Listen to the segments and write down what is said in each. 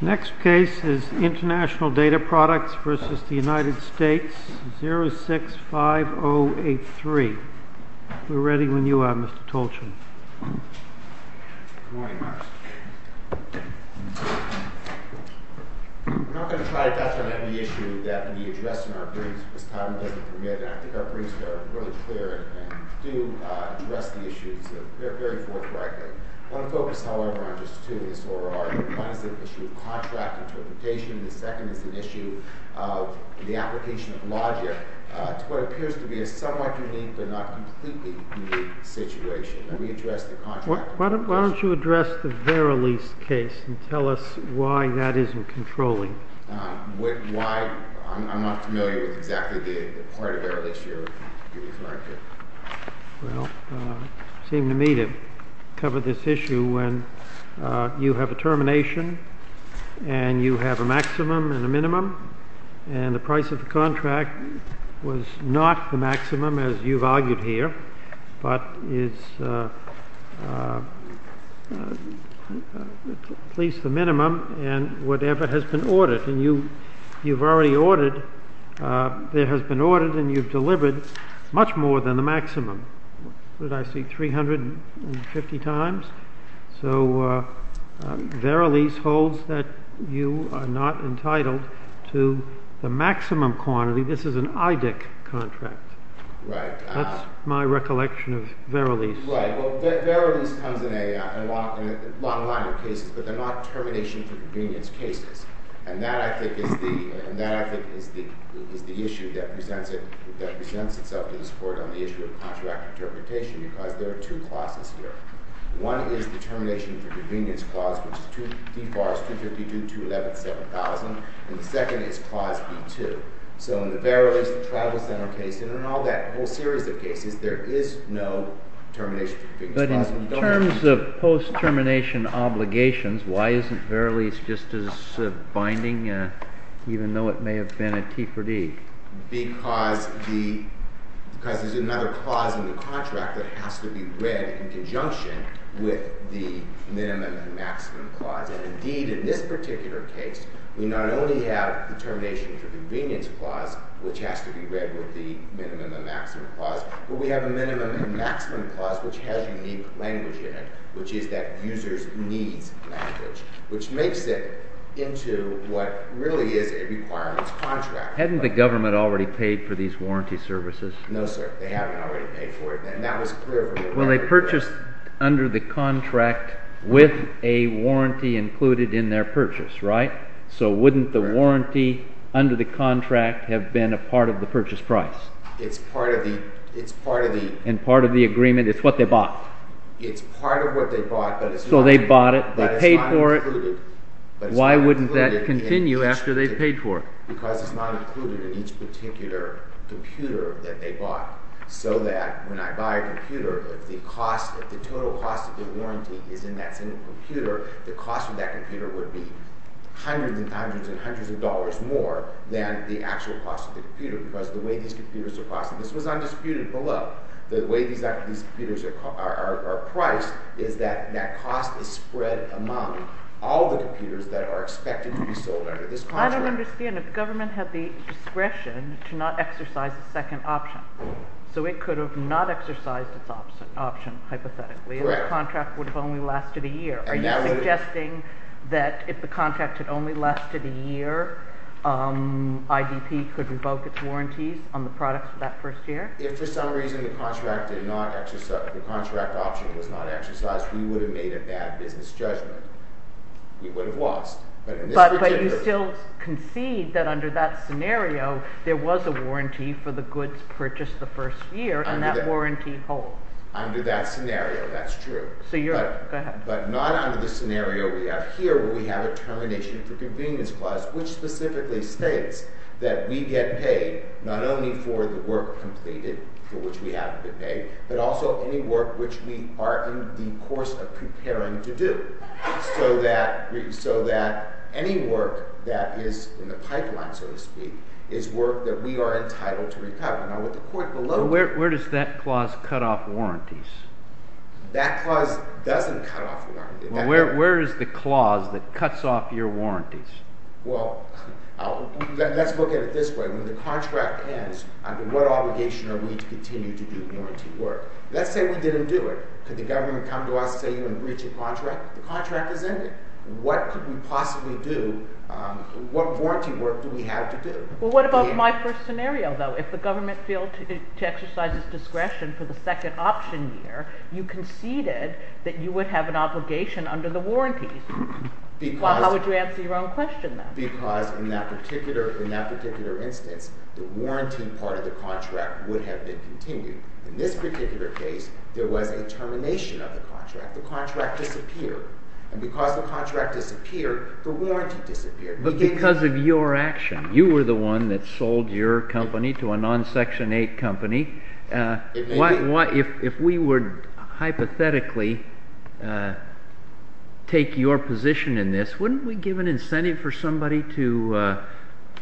Next case is Intl Data Products v. United States 065083. We are ready when you are, Mr. Tolchin. I'm not going to try to touch on any issue that can be addressed in our briefs because time doesn't permit it. I think our briefs are really clear and do address the issues very forthrightly. I want to focus, however, on just two in this overall argument. One is the issue of contract interpretation. The second is an issue of the application of logic to what appears to be a somewhat unique but not completely unique situation. Let me address the contract interpretation. Why don't you address the Verilis case and tell us why that isn't controlling? Why? I'm not familiar with exactly the part of Verilis you're referring to. Well, it seemed to me to cover this issue when you have a termination and you have a maximum and a minimum, and the price of the contract was not the maximum as you've argued here, but is at least the minimum and whatever has been ordered. There has been ordered and you've delivered much more than the maximum. What did I see, 350 times? So Verilis holds that you are not entitled to the maximum quantity. This is an IDIC contract. That's my recollection of Verilis. Right. Well, Verilis comes in a long line of cases, but they're not termination for convenience cases. And that, I think, is the issue that presents itself to this Court on the issue of contract interpretation because there are two clauses here. One is the termination for convenience clause, which is D-252.211.7000, and the second is clause B-2. So in the Verilis, the Travel Center case, and in all that whole series of cases, there is no termination for convenience clause. But in terms of post-termination obligations, why isn't Verilis just as binding, even though it may have been a T for D? Because there's another clause in the contract that has to be read in conjunction with the minimum and maximum clause. And indeed, in this particular case, we not only have the termination for convenience clause, which has to be read with the minimum and maximum clause, but we have a minimum and maximum clause which has unique language in it, which is that users need language, which makes it into what really is a requirements contract. Hadn't the government already paid for these warranty services? No, sir. They haven't already paid for it, and that was clear from the beginning. Well, they purchased under the contract with a warranty included in their purchase, right? So wouldn't the warranty under the contract have been a part of the purchase price? And part of the agreement is what they bought? It's part of what they bought, but it's not included. So they bought it, they paid for it. Why wouldn't that continue after they paid for it? Because it's not included in each particular computer that they bought. So that when I buy a computer, if the total cost of the warranty is in that same computer, the cost of that computer would be hundreds and hundreds and hundreds of dollars more than the actual cost of the computer because of the way these computers are priced. And this was undisputed below. The way these computers are priced is that that cost is spread among all the computers that are expected to be sold under this contract. I don't understand. If government had the discretion to not exercise a second option, so it could have not exercised its option hypothetically, and the contract would have only lasted a year. Are you suggesting that if the contract had only lasted a year, IDP could revoke its warranties on the products for that first year? If for some reason the contract option was not exercised, we would have made a bad business judgment. We would have lost. But you still concede that under that scenario, there was a warranty for the goods purchased the first year, and that warranty holds. Under that scenario, that's true. But not under the scenario we have here, where we have a termination for convenience clause, which specifically states that we get paid not only for the work completed, for which we haven't been paid, but also any work which we are in the course of preparing to do, so that any work that is in the pipeline, so to speak, is work that we are entitled to recover. Where does that clause cut off warranties? That clause doesn't cut off warranties. Where is the clause that cuts off your warranties? Well, let's look at it this way. When the contract ends, under what obligation are we to continue to do warranty work? Let's say we didn't do it. Could the government come to us, say, and breach a contract? The contract is ended. What could we possibly do? What warranty work do we have to do? Well, what about my first scenario, though? If the government failed to exercise its discretion for the second option year, you conceded that you would have an obligation under the warranties. How would you answer your own question, then? Because in that particular instance, the warranty part of the contract would have been continued. In this particular case, there was a termination of the contract. The contract disappeared. And because the contract disappeared, the warranty disappeared. But because of your action, you were the one that sold your company to a non-Section 8 company. If we would hypothetically take your position in this, wouldn't we give an incentive for somebody to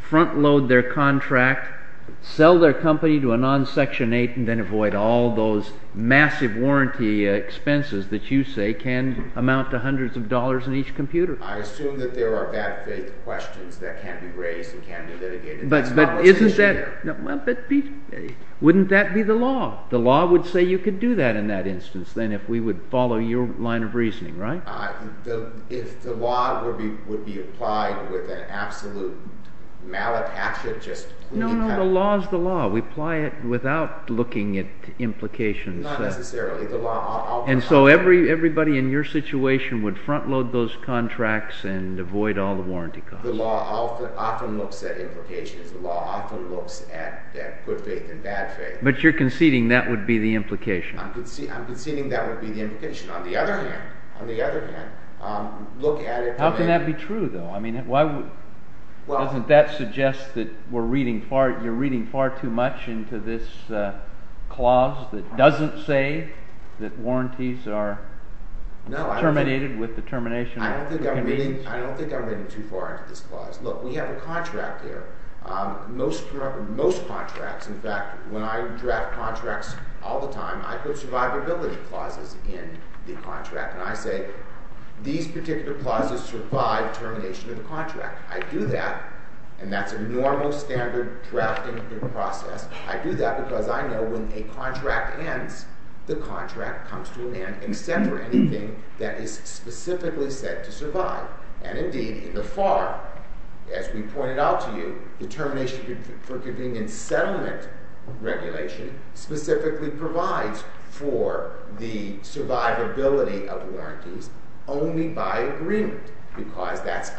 front load their contract, sell their company to a non-Section 8, and then avoid all those massive warranty expenses that you say can amount to hundreds of dollars in each computer? I assume that there are bad faith questions that can't be raised and can't be litigated. But isn't that—wouldn't that be the law? The law would say you could do that in that instance, then, if we would follow your line of reasoning, right? If the law would be applied with an absolute malattachment, just— No, no, the law is the law. We apply it without looking at implications. Not necessarily. And so everybody in your situation would front load those contracts and avoid all the warranty costs. The law often looks at implications. The law often looks at good faith and bad faith. But you're conceding that would be the implication. I'm conceding that would be the implication. On the other hand, look at it— How can that be true, though? Doesn't that suggest that we're reading far—you're reading far too much into this clause that doesn't say that warranties are terminated with the termination of— I don't think I'm reading too far into this clause. Look, we have a contract here. Most contracts, in fact, when I draft contracts all the time, I put survivability clauses in the contract. And I say these particular clauses survive termination of the contract. I do that, and that's a normal, standard drafting process. I do that because I know when a contract ends, the contract comes to an end except for anything that is specifically set to survive. And indeed, in the FAR, as we pointed out to you, the Termination for Convenience Settlement Regulation specifically provides for the survivability of warranties only by agreement. Because that's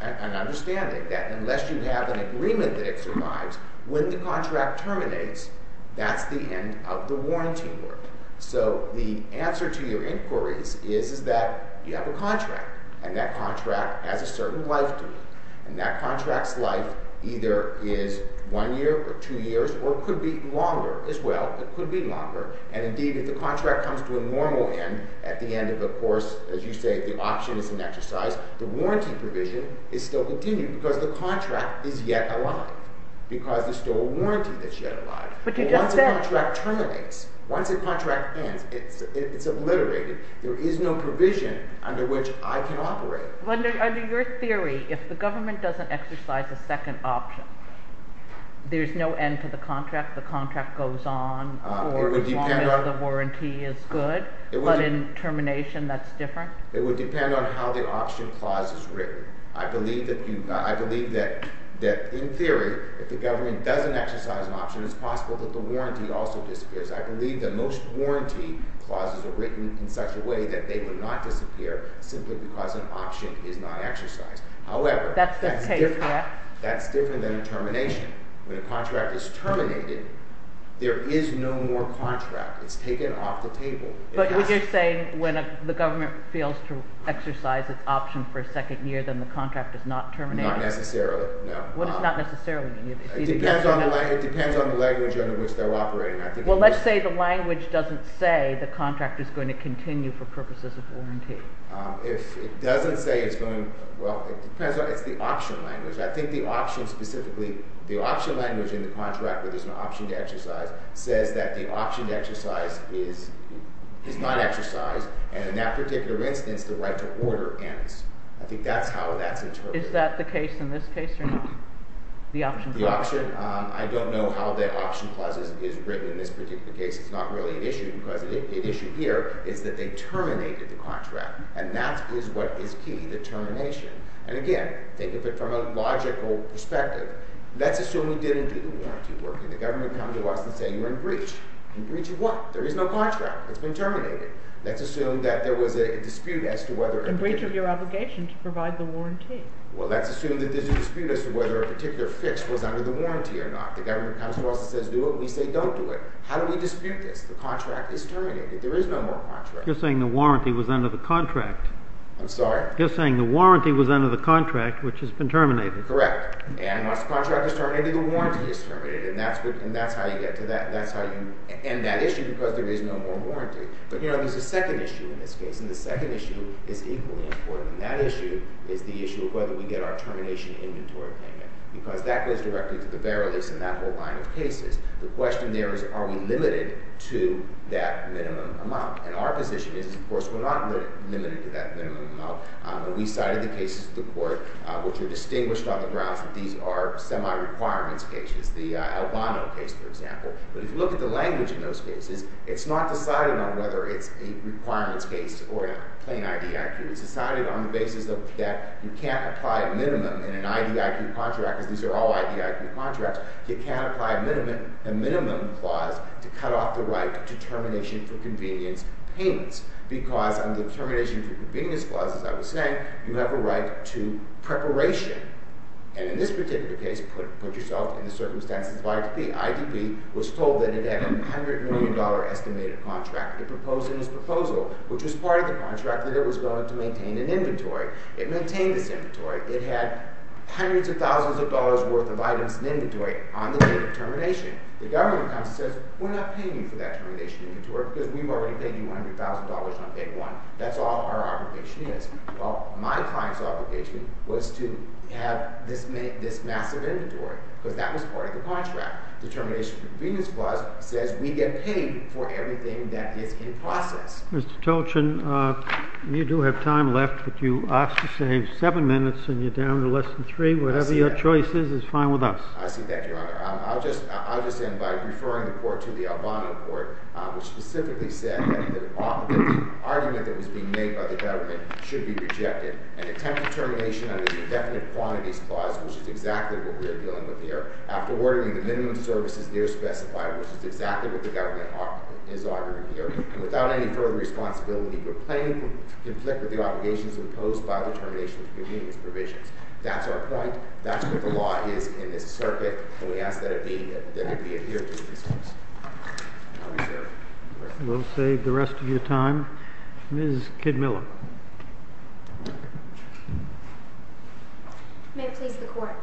an understanding that unless you have an agreement that it survives, when the contract terminates, that's the end of the warranty work. So the answer to your inquiries is that you have a contract, and that contract has a certain life to it. And that contract's life either is one year or two years or could be longer as well. It could be longer. And indeed, if the contract comes to a normal end at the end of a course, as you say, if the option is an exercise, the warranty provision is still continued because the contract is yet alive, because there's still a warranty that's yet alive. Once a contract terminates, once a contract ends, it's obliterated. There is no provision under which I can operate. Under your theory, if the government doesn't exercise a second option, there's no end to the contract? The contract goes on for as long as the warranty is good? But in termination, that's different? It would depend on how the option clause is written. I believe that in theory, if the government doesn't exercise an option, it's possible that the warranty also disappears. I believe that most warranty clauses are written in such a way that they would not disappear simply because an option is not exercised. However, that's different than a termination. When a contract is terminated, there is no more contract. It's taken off the table. But you're saying when the government fails to exercise its option for a second year, then the contract is not terminated? Not necessarily, no. What does not necessarily mean? It depends on the language under which they're operating. Well, let's say the language doesn't say the contract is going to continue for purposes of warranty. If it doesn't say it's going – well, it depends on – it's the option language. I think the option specifically – the option language in the contract where there's an option to exercise says that the option to exercise is not exercised. And in that particular instance, the right to order ends. I think that's how that's interpreted. Is that the case in this case or not, the option clause? The option – I don't know how the option clause is written in this particular case. It's not really an issue because the issue here is that they terminated the contract. And that is what is key, the termination. And again, think of it from a logical perspective. Let's assume we didn't do the warranty work, and the government comes to us and says you're in breach. In breach of what? There is no contract. It's been terminated. Let's assume that there was a dispute as to whether – In breach of your obligation to provide the warranty. Well, let's assume that there's a dispute as to whether a particular fix was under the warranty or not. The government comes to us and says do it, and we say don't do it. How do we dispute this? The contract is terminated. There is no more contract. You're saying the warranty was under the contract. I'm sorry? You're saying the warranty was under the contract, which has been terminated. Correct. And once the contract is terminated, the warranty is terminated. And that's how you get to that. That's how you end that issue because there is no more warranty. But there's a second issue in this case, and the second issue is equally important. And that issue is the issue of whether we get our termination inventory payment because that goes directly to the bearer list and that whole line of cases. The question there is are we limited to that minimum amount. And our position is, of course, we're not limited to that minimum amount. We cited the cases to the court which are distinguished on the grounds that these are semi-requirements cases, the Albano case, for example. But if you look at the language in those cases, it's not decided on whether it's a requirements case or a plain IDIQ. It's decided on the basis that you can't apply a minimum in an IDIQ contract because these are all IDIQ contracts. You can't apply a minimum clause to cut off the right to termination for convenience payments because under the termination for convenience clause, as I was saying, you have a right to preparation. And in this particular case, put yourself in the circumstances of IDIQ. The IDIQ was told that it had a $100 million estimated contract. It proposed in its proposal, which was part of the contract, It maintained this inventory. It had hundreds of thousands of dollars' worth of items in inventory on the date of termination. The government comes and says, We're not paying you for that termination inventory because we've already paid you $100,000 on day one. That's all our obligation is. Well, my client's obligation was to have this massive inventory because that was part of the contract. The termination for convenience clause says we get paid for everything that is in process. Mr. Tolchin, you do have time left, but you asked to save seven minutes, and you're down to less than three. Whatever your choice is is fine with us. I see that, Your Honor. I'll just end by referring the court to the Albano court, which specifically said that the argument that was being made by the government should be rejected. An attempt at termination under the indefinite quantities clause, which is exactly what we are dealing with here, after ordering the minimum services there specified, which is exactly what the government is arguing here, without any further responsibility to complain, to conflict with the obligations imposed by the termination of convenience provisions. That's our point. That's what the law is in this circuit, and we ask that it be adhered to in this case. I'll reserve the rest of your time. We'll save the rest of your time. Ms. Kidmiller. May it please the Court.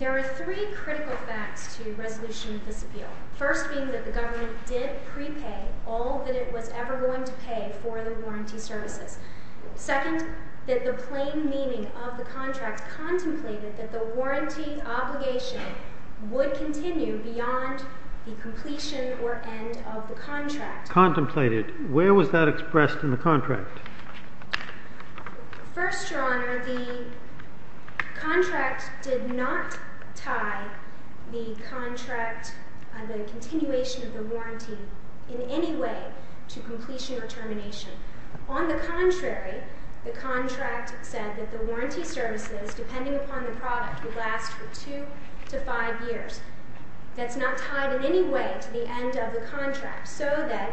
There are three critical facts to the resolution of this appeal, first being that the government did prepay all that it was ever going to pay for the warranty services. Second, that the plain meaning of the contract contemplated that the warranty obligation would continue beyond the completion or end of the contract. Contemplated. Where was that expressed in the contract? First, Your Honor, the contract did not tie the continuation of the warranty in any way to completion or termination. On the contrary, the contract said that the warranty services, depending upon the product, would last for two to five years. That's not tied in any way to the end of the contract, so that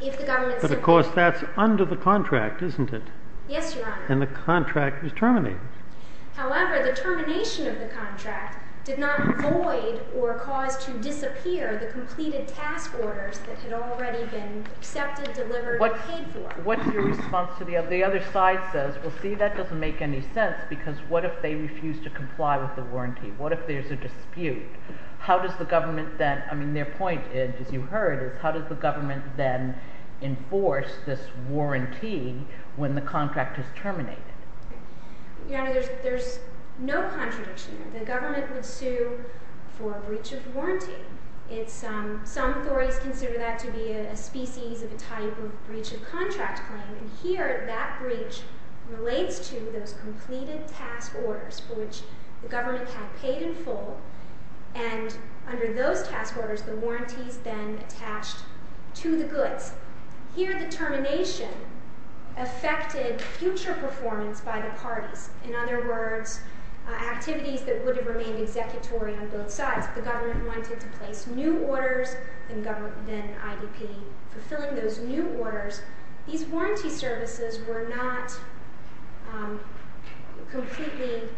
if the government simply— But of course, that's under the contract, isn't it? Yes, Your Honor. And the contract is terminated. However, the termination of the contract did not avoid or cause to disappear the completed task orders that had already been accepted, delivered, and paid for. What's your response to the— The other side says, well, see, that doesn't make any sense, because what if they refuse to comply with the warranty? What if there's a dispute? How does the government then— I mean, their point, as you heard, is how does the government then enforce this warranty when the contract is terminated? Your Honor, there's no contradiction there. The government would sue for a breach of warranty. Some authorities consider that to be a species of a type of breach of contract claim, and here that breach relates to those completed task orders for which the government had paid in full, and under those task orders, the warranty's been attached to the goods. Here, the termination affected future performance by the parties. In other words, activities that would have remained executory on both sides. If the government wanted to place new orders, then IDP fulfilling those new orders. These warranty services were not completely—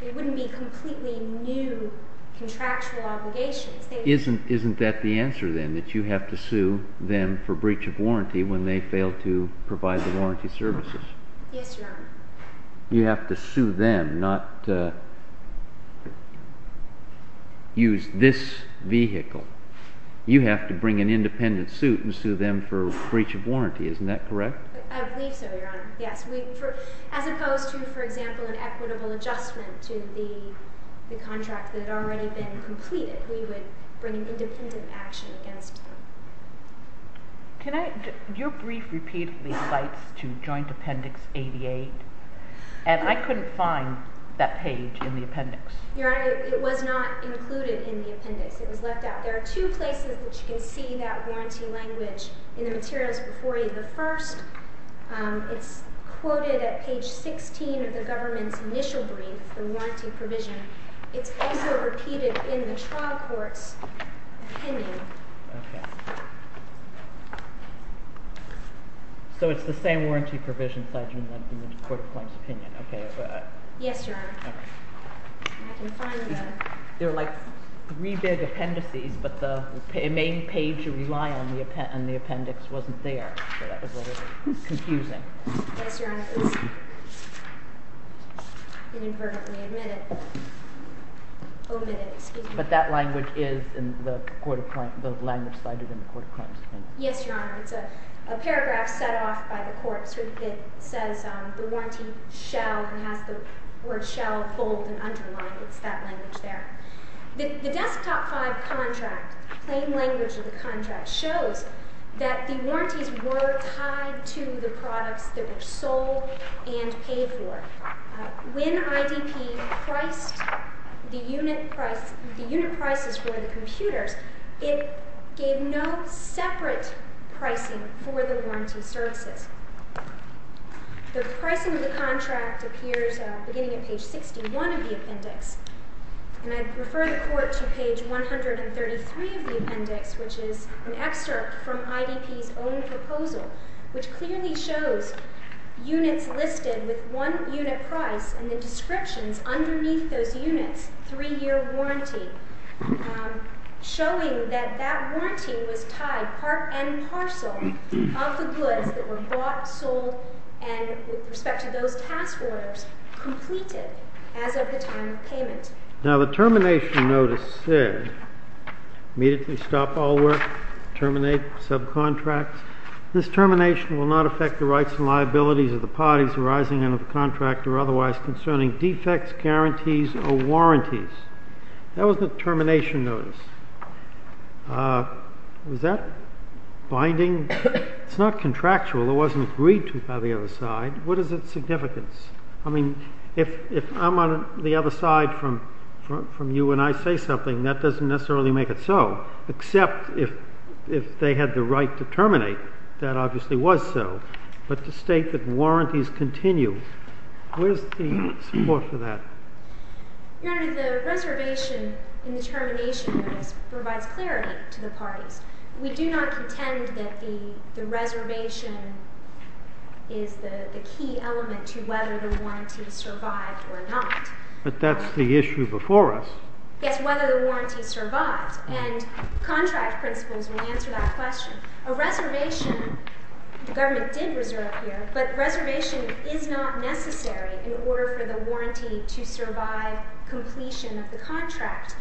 they wouldn't be completely new contractual obligations. Isn't that the answer, then, that you have to sue them for breach of warranty when they fail to provide the warranty services? Yes, Your Honor. You have to sue them, not use this vehicle. You have to bring an independent suit and sue them for breach of warranty. Isn't that correct? I believe so, Your Honor, yes. As opposed to, for example, an equitable adjustment to the contract that had already been completed, we would bring an independent action against them. Your brief repeatedly cites to Joint Appendix 88, and I couldn't find that page in the appendix. Your Honor, it was not included in the appendix. It was left out. There are two places that you can see that warranty language in the materials before you. The first, it's quoted at page 16 of the government's initial brief, the warranty provision. It's also repeated in the trial court's opinion. So it's the same warranty provision cited in the court of claims opinion. Yes, Your Honor. I can find that. There are like three big appendices, but the main page you rely on in the appendix wasn't there. So that was a little confusing. Yes, Your Honor. I inadvertently omitted it. But that language is in the language cited in the court of claims opinion. Yes, Your Honor. It's a paragraph set off by the courts. It says the warranty shall, and has the word shall bold and underlined. It's that language there. The desktop five contract, plain language of the contract, shows that the warranties were tied to the products that were sold and paid for. When IDP priced the unit prices for the computers, it gave no separate pricing for the warranty services. The pricing of the contract appears beginning at page 61 of the appendix. And I refer the court to page 133 of the appendix, which is an excerpt from IDP's own proposal, which clearly shows units listed with one unit price and the descriptions underneath those units, three-year warranty, showing that that warranty was tied part and parcel of the goods that were bought, sold, and with respect to those task orders completed as of the time of payment. Now, the termination notice said immediately stop all work, terminate subcontracts. This termination will not affect the rights and liabilities of the parties arising out of the contract or otherwise concerning defects, guarantees, or warranties. That was the termination notice. Was that binding? It's not contractual. It wasn't agreed to by the other side. What is its significance? I mean, if I'm on the other side from you and I say something, that doesn't necessarily make it so, except if they had the right to terminate. That obviously was so. But to state that warranties continue, where's the support for that? Your Honor, the reservation in the termination notice provides clarity to the parties. We do not contend that the reservation is the key element to whether the warranty survived or not. But that's the issue before us. Yes, whether the warranty survived. And contract principles will answer that question. A reservation, the government did reserve here, but reservation is not necessary in order for the warranty to survive completion of the contract.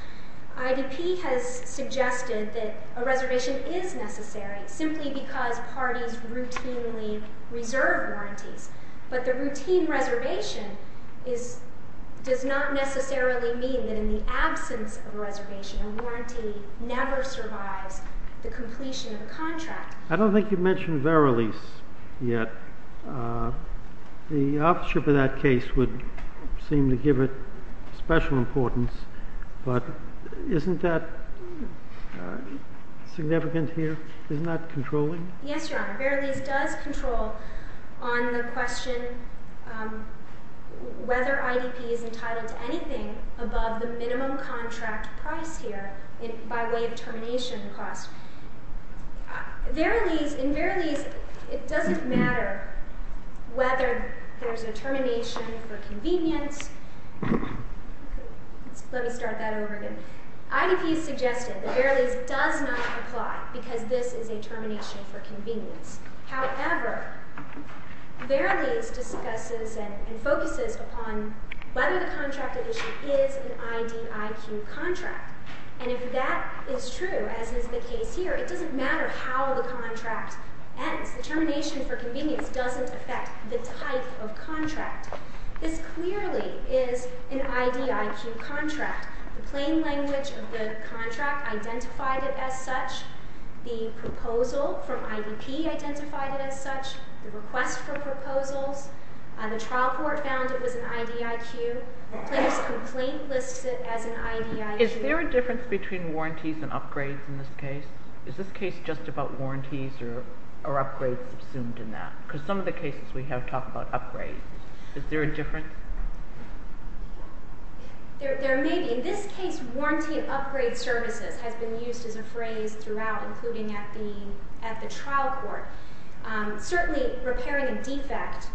IDP has suggested that a reservation is necessary simply because parties routinely reserve warranties. But the routine reservation does not necessarily mean that in the absence of a reservation, a warranty never survives the completion of a contract. I don't think you've mentioned Verilis yet. The authorship of that case would seem to give it special importance. But isn't that significant here? Isn't that controlling? Yes, Your Honor. Verilis does control on the question whether IDP is entitled to anything above the minimum contract price here by way of termination cost. In Verilis, it doesn't matter whether there's a termination for convenience. Let me start that over again. IDP has suggested that Verilis does not apply because this is a termination for convenience. However, Verilis discusses and focuses upon whether the contract at issue is an IDIQ contract. And if that is true, as is the case here, it doesn't matter how the contract ends. The termination for convenience doesn't affect the type of contract. This clearly is an IDIQ contract. The plain language of the contract identified it as such. The proposal from IDP identified it as such. The request for proposals. The trial court found it was an IDIQ. The plaintiff's complaint lists it as an IDIQ. Is there a difference between warranties and upgrades in this case? Is this case just about warranties or upgrades assumed in that? Because some of the cases we have talk about upgrades. Is there a difference? There may be. In this case, warranty upgrade services has been used as a phrase throughout, including at the trial court. Certainly, repairing a defect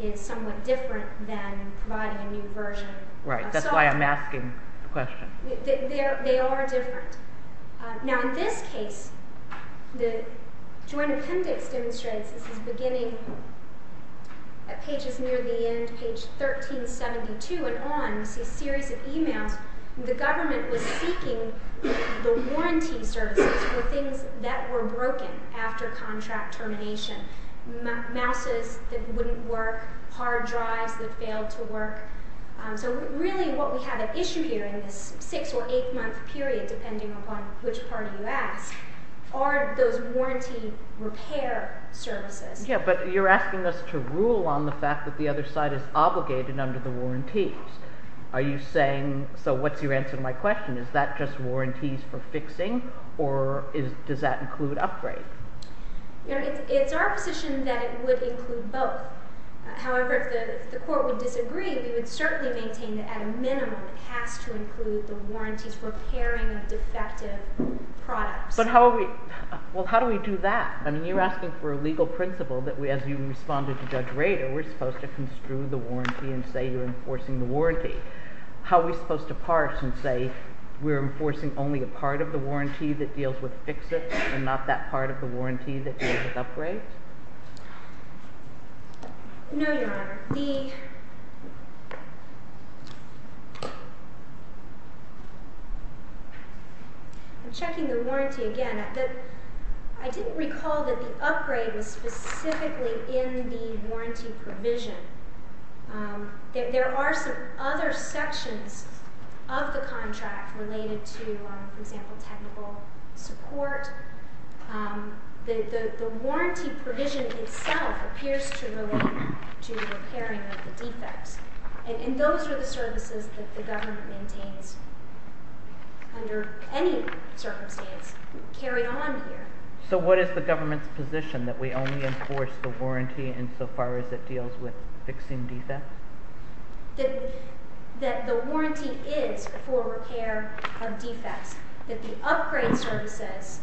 is somewhat different than providing a new version of software. Right, that's why I'm asking the question. They are different. Now, in this case, the joint appendix demonstrates, this is beginning at pages near the end, page 1372 and on, you see a series of emails. The government was seeking the warranty services for things that were broken after contract termination. Mouses that wouldn't work, hard drives that failed to work. So really what we have at issue here in this six or eight month period, depending upon which part you ask, are those warranty repair services. Yeah, but you're asking us to rule on the fact that the other side is obligated under the warranties. Are you saying, so what's your answer to my question? Is that just warranties for fixing or does that include upgrade? It's our position that it would include both. However, if the court would disagree, we would certainly maintain that at a minimum it has to include the warranties for repairing of defective products. But how do we do that? I mean, you're asking for a legal principle that as you responded to Judge Rader, we're supposed to construe the warranty and say you're enforcing the warranty. How are we supposed to parse and say we're enforcing only a part of the warranty that deals with fix-its and not that part of the warranty that deals with upgrades? No, Your Honor. I'm checking the warranty again. I didn't recall that the upgrade was specifically in the warranty provision. There are some other sections of the contract related to, for example, technical support. The warranty provision itself appears to relate to the repairing of the defects. And those are the services that the government maintains under any circumstance carried on here. So what is the government's position, that we only enforce the warranty insofar as it deals with fixing defects? That the warranty is for repair of defects, that the upgrade services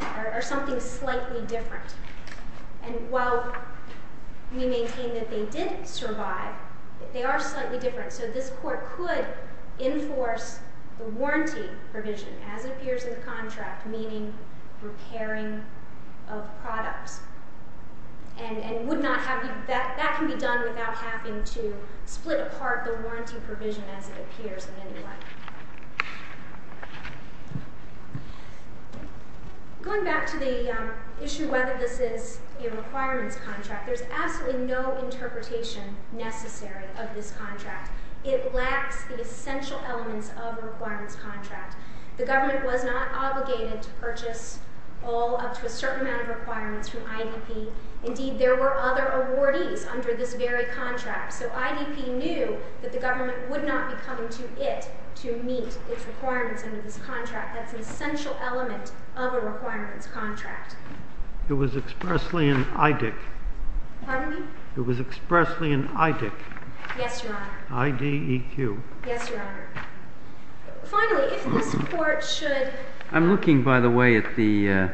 are something slightly different. And while we maintain that they did survive, they are slightly different. So this Court could enforce the warranty provision, as it appears in the contract, meaning repairing of products. And that can be done without having to split apart the warranty provision as it appears in any way. Going back to the issue of whether this is a requirements contract, there's absolutely no interpretation necessary of this contract. It lacks the essential elements of a requirements contract. The government was not obligated to purchase all up to a certain amount of requirements from IDP. Indeed, there were other awardees under this very contract. So IDP knew that the government would not be coming to it to meet its requirements under this contract. That's an essential element of a requirements contract. It was expressly an IDEC. Pardon me? It was expressly an IDEC. Yes, Your Honor. I-D-E-Q. Yes, Your Honor. Finally, if this Court should... I'm looking, by the way, at the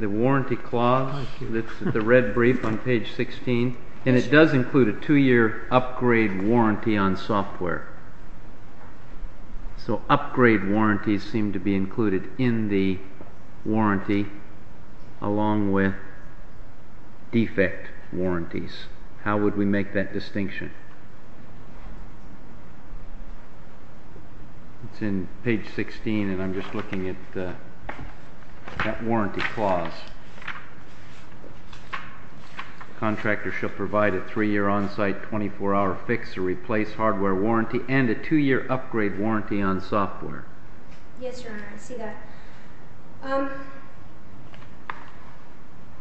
warranty clause that's in the red brief on page 16, and it does include a 2-year upgrade warranty on software. So upgrade warranties seem to be included in the warranty along with defect warranties. How would we make that distinction? It's in page 16, and I'm just looking at that warranty clause. Contractors shall provide a 3-year on-site 24-hour fix to replace hardware warranty and a 2-year upgrade warranty on software. Yes, Your Honor, I see that.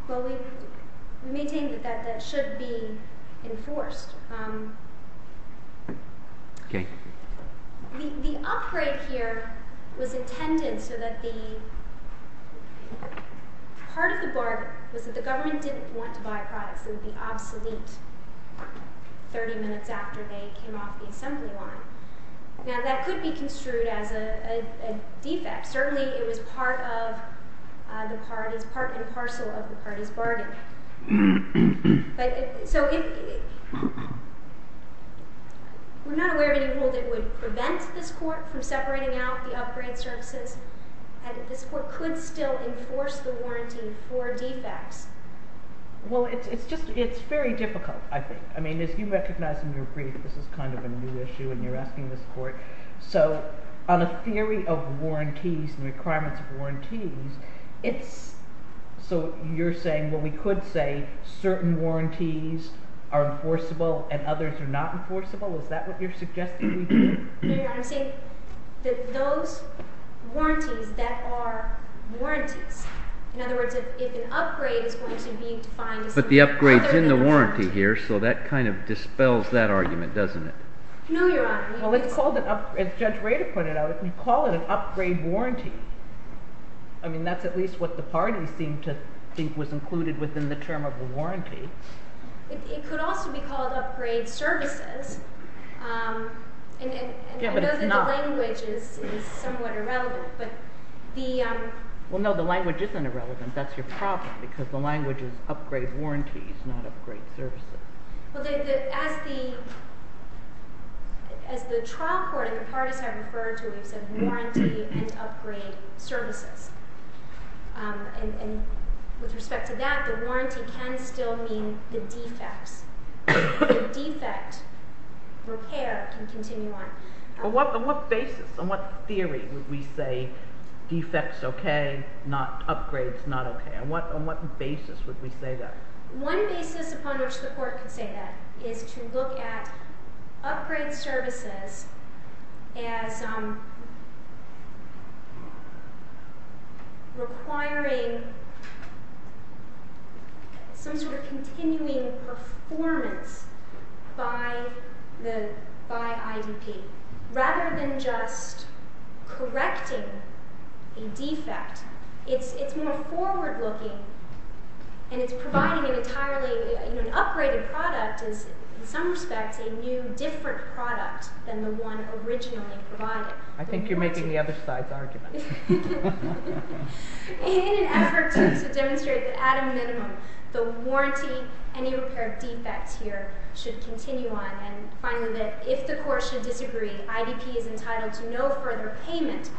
Well, we maintain that that should be enforced. Okay. The upgrade here was intended so that the part of the bargain was that the government didn't want to buy products that would be obsolete 30 minutes after they came off the assembly line. Now, that could be construed as a defect. Certainly, it was part and parcel of the party's bargain. We're not aware of any rule that would prevent this Court from separating out the upgrade services, and this Court could still enforce the warranty for defects. Well, it's very difficult, I think. I mean, as you recognize in your brief, this is kind of a new issue, and you're asking this Court. So on a theory of warranties and requirements of warranties, so you're saying, well, we could say certain warranties are enforceable and others are not enforceable? Is that what you're suggesting we do? No, Your Honor. I'm saying that those warranties that are warranties, in other words, if an upgrade is going to be defined as an upgrade... But the upgrade's in the warranty here, so that kind of dispels that argument, doesn't it? No, Your Honor. As Judge Rader pointed out, you call it an upgrade warranty. I mean, that's at least what the party seemed to think was included within the term of a warranty. It could also be called upgrade services. I know that the language is somewhat irrelevant, but the... Well, no, the language isn't irrelevant. That's your problem, because the language is upgrade warranties, not upgrade services. Well, as the trial court and the parties have referred to, we've said warranty and upgrade services. And with respect to that, the warranty can still mean the defects. The defect repair can continue on. But on what basis, on what theory would we say defects okay, upgrades not okay? On what basis would we say that? One basis upon which the court could say that is to look at upgrade services as requiring some sort of continuing performance by IDP. Rather than just correcting a defect, it's more forward-looking, and it's providing an entirely... An upgraded product is, in some respects, a new different product than the one originally provided. I think you're making the other side's argument. In an effort to demonstrate that, at a minimum, the warranty, any repair defects here, should continue on. And finally, that if the court should disagree, IDP is entitled to no further payment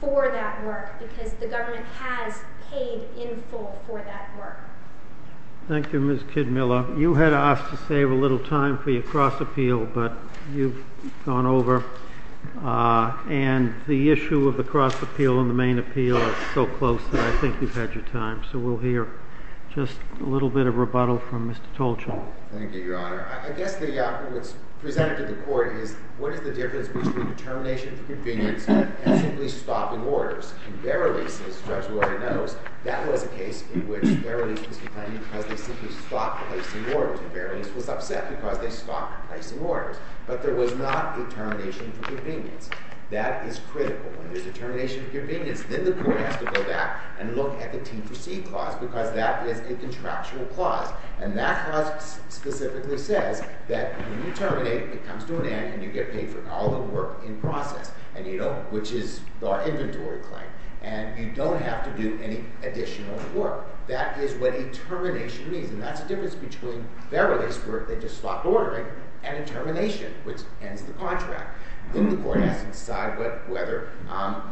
for that work because the government has paid in full for that work. Thank you, Ms. Kidmiller. You had asked to save a little time for your cross-appeal, but you've gone over. And the issue of the cross-appeal and the main appeal are so close that I think you've had your time. So we'll hear just a little bit of rebuttal from Mr. Tolchin. Thank you, Your Honor. I guess what's presented to the court is, what is the difference between determination for convenience and simply stopping orders? In Verilis, as the judge already knows, that was a case in which Verilis was complaining because they simply stopped placing orders. And Verilis was upset because they stopped placing orders. But there was not a termination for convenience. That is critical. When there's a termination for convenience, then the court has to go back and look at the Team Proceed Clause because that is a contractual clause. And that clause specifically says that when you terminate, it comes to an end and you get paid for all the work in process. And, you know, which is our inventory claim. And you don't have to do any additional work. That is what a termination means. And that's the difference between Verilis, where they just stopped ordering, and a termination, which ends the contract. Then the court has to decide whether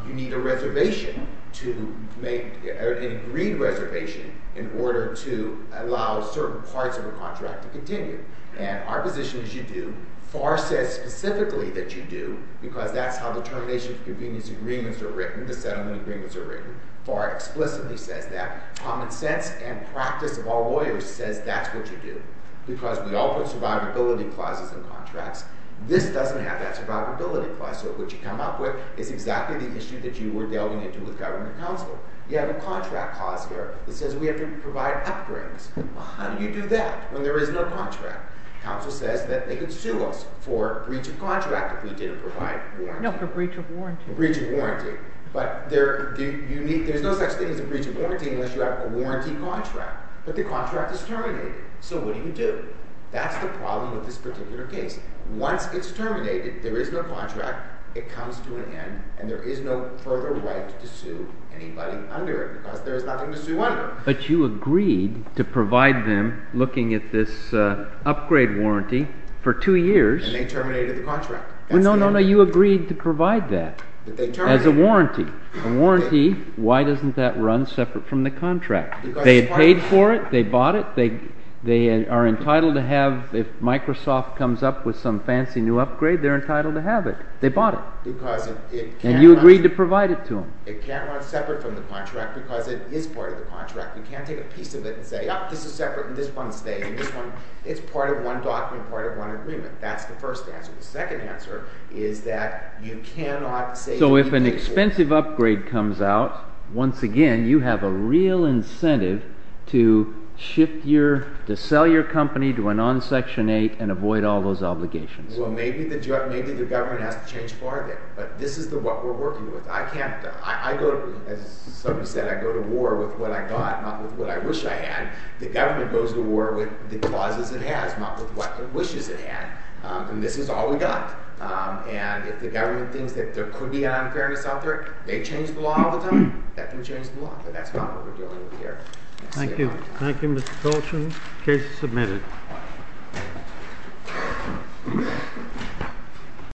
you need a reservation to make an agreed reservation in order to allow certain parts of the contract to continue. And our position is you do. FAR says specifically that you do because that's how the termination for convenience agreements are written, the settlement agreements are written. FAR explicitly says that. Common sense and practice of all lawyers says that's what you do because we all put survivability clauses in contracts. This doesn't have that survivability clause. So what you come up with is exactly the issue that you were delving into with government counsel. You have a contract clause here that says we have to provide upgrades. Well, how do you do that when there is no contract? Counsel says that they could sue us for breach of contract if we didn't provide warranty. No, for breach of warranty. Breach of warranty. But there's no such thing as a breach of warranty unless you have a warranty contract. But the contract is terminated, so what do you do? That's the problem with this particular case. Once it's terminated, there is no contract, it comes to an end, and there is no further right to sue anybody under it because there is nothing to sue under. But you agreed to provide them looking at this upgrade warranty for two years. And they terminated the contract. No, no, no, you agreed to provide that as a warranty. A warranty, why doesn't that run separate from the contract? They paid for it, they bought it, they are entitled to have, if Microsoft comes up with some fancy new upgrade, they're entitled to have it. They bought it. And you agreed to provide it to them. It can't run separate from the contract because it is part of the contract. You can't take a piece of it and say, this is separate and this one stays and this one... It's part of one document, part of one agreement. That's the first answer. The second answer is that you cannot say... So if an expensive upgrade comes out, once again, you have a real incentive to sell your company, to run on Section 8, and avoid all those obligations. Well, maybe the government has to change the bar there. But this is what we're working with. As somebody said, I go to war with what I got, not with what I wish I had. The government goes to war with the clauses it has, not with what it wishes it had. And this is all we got. And if the government thinks that there could be an unfairness out there, they change the law all the time, that can change the law. But that's not what we're doing here. Thank you. Thank you, Mr. Colshan. Case submitted.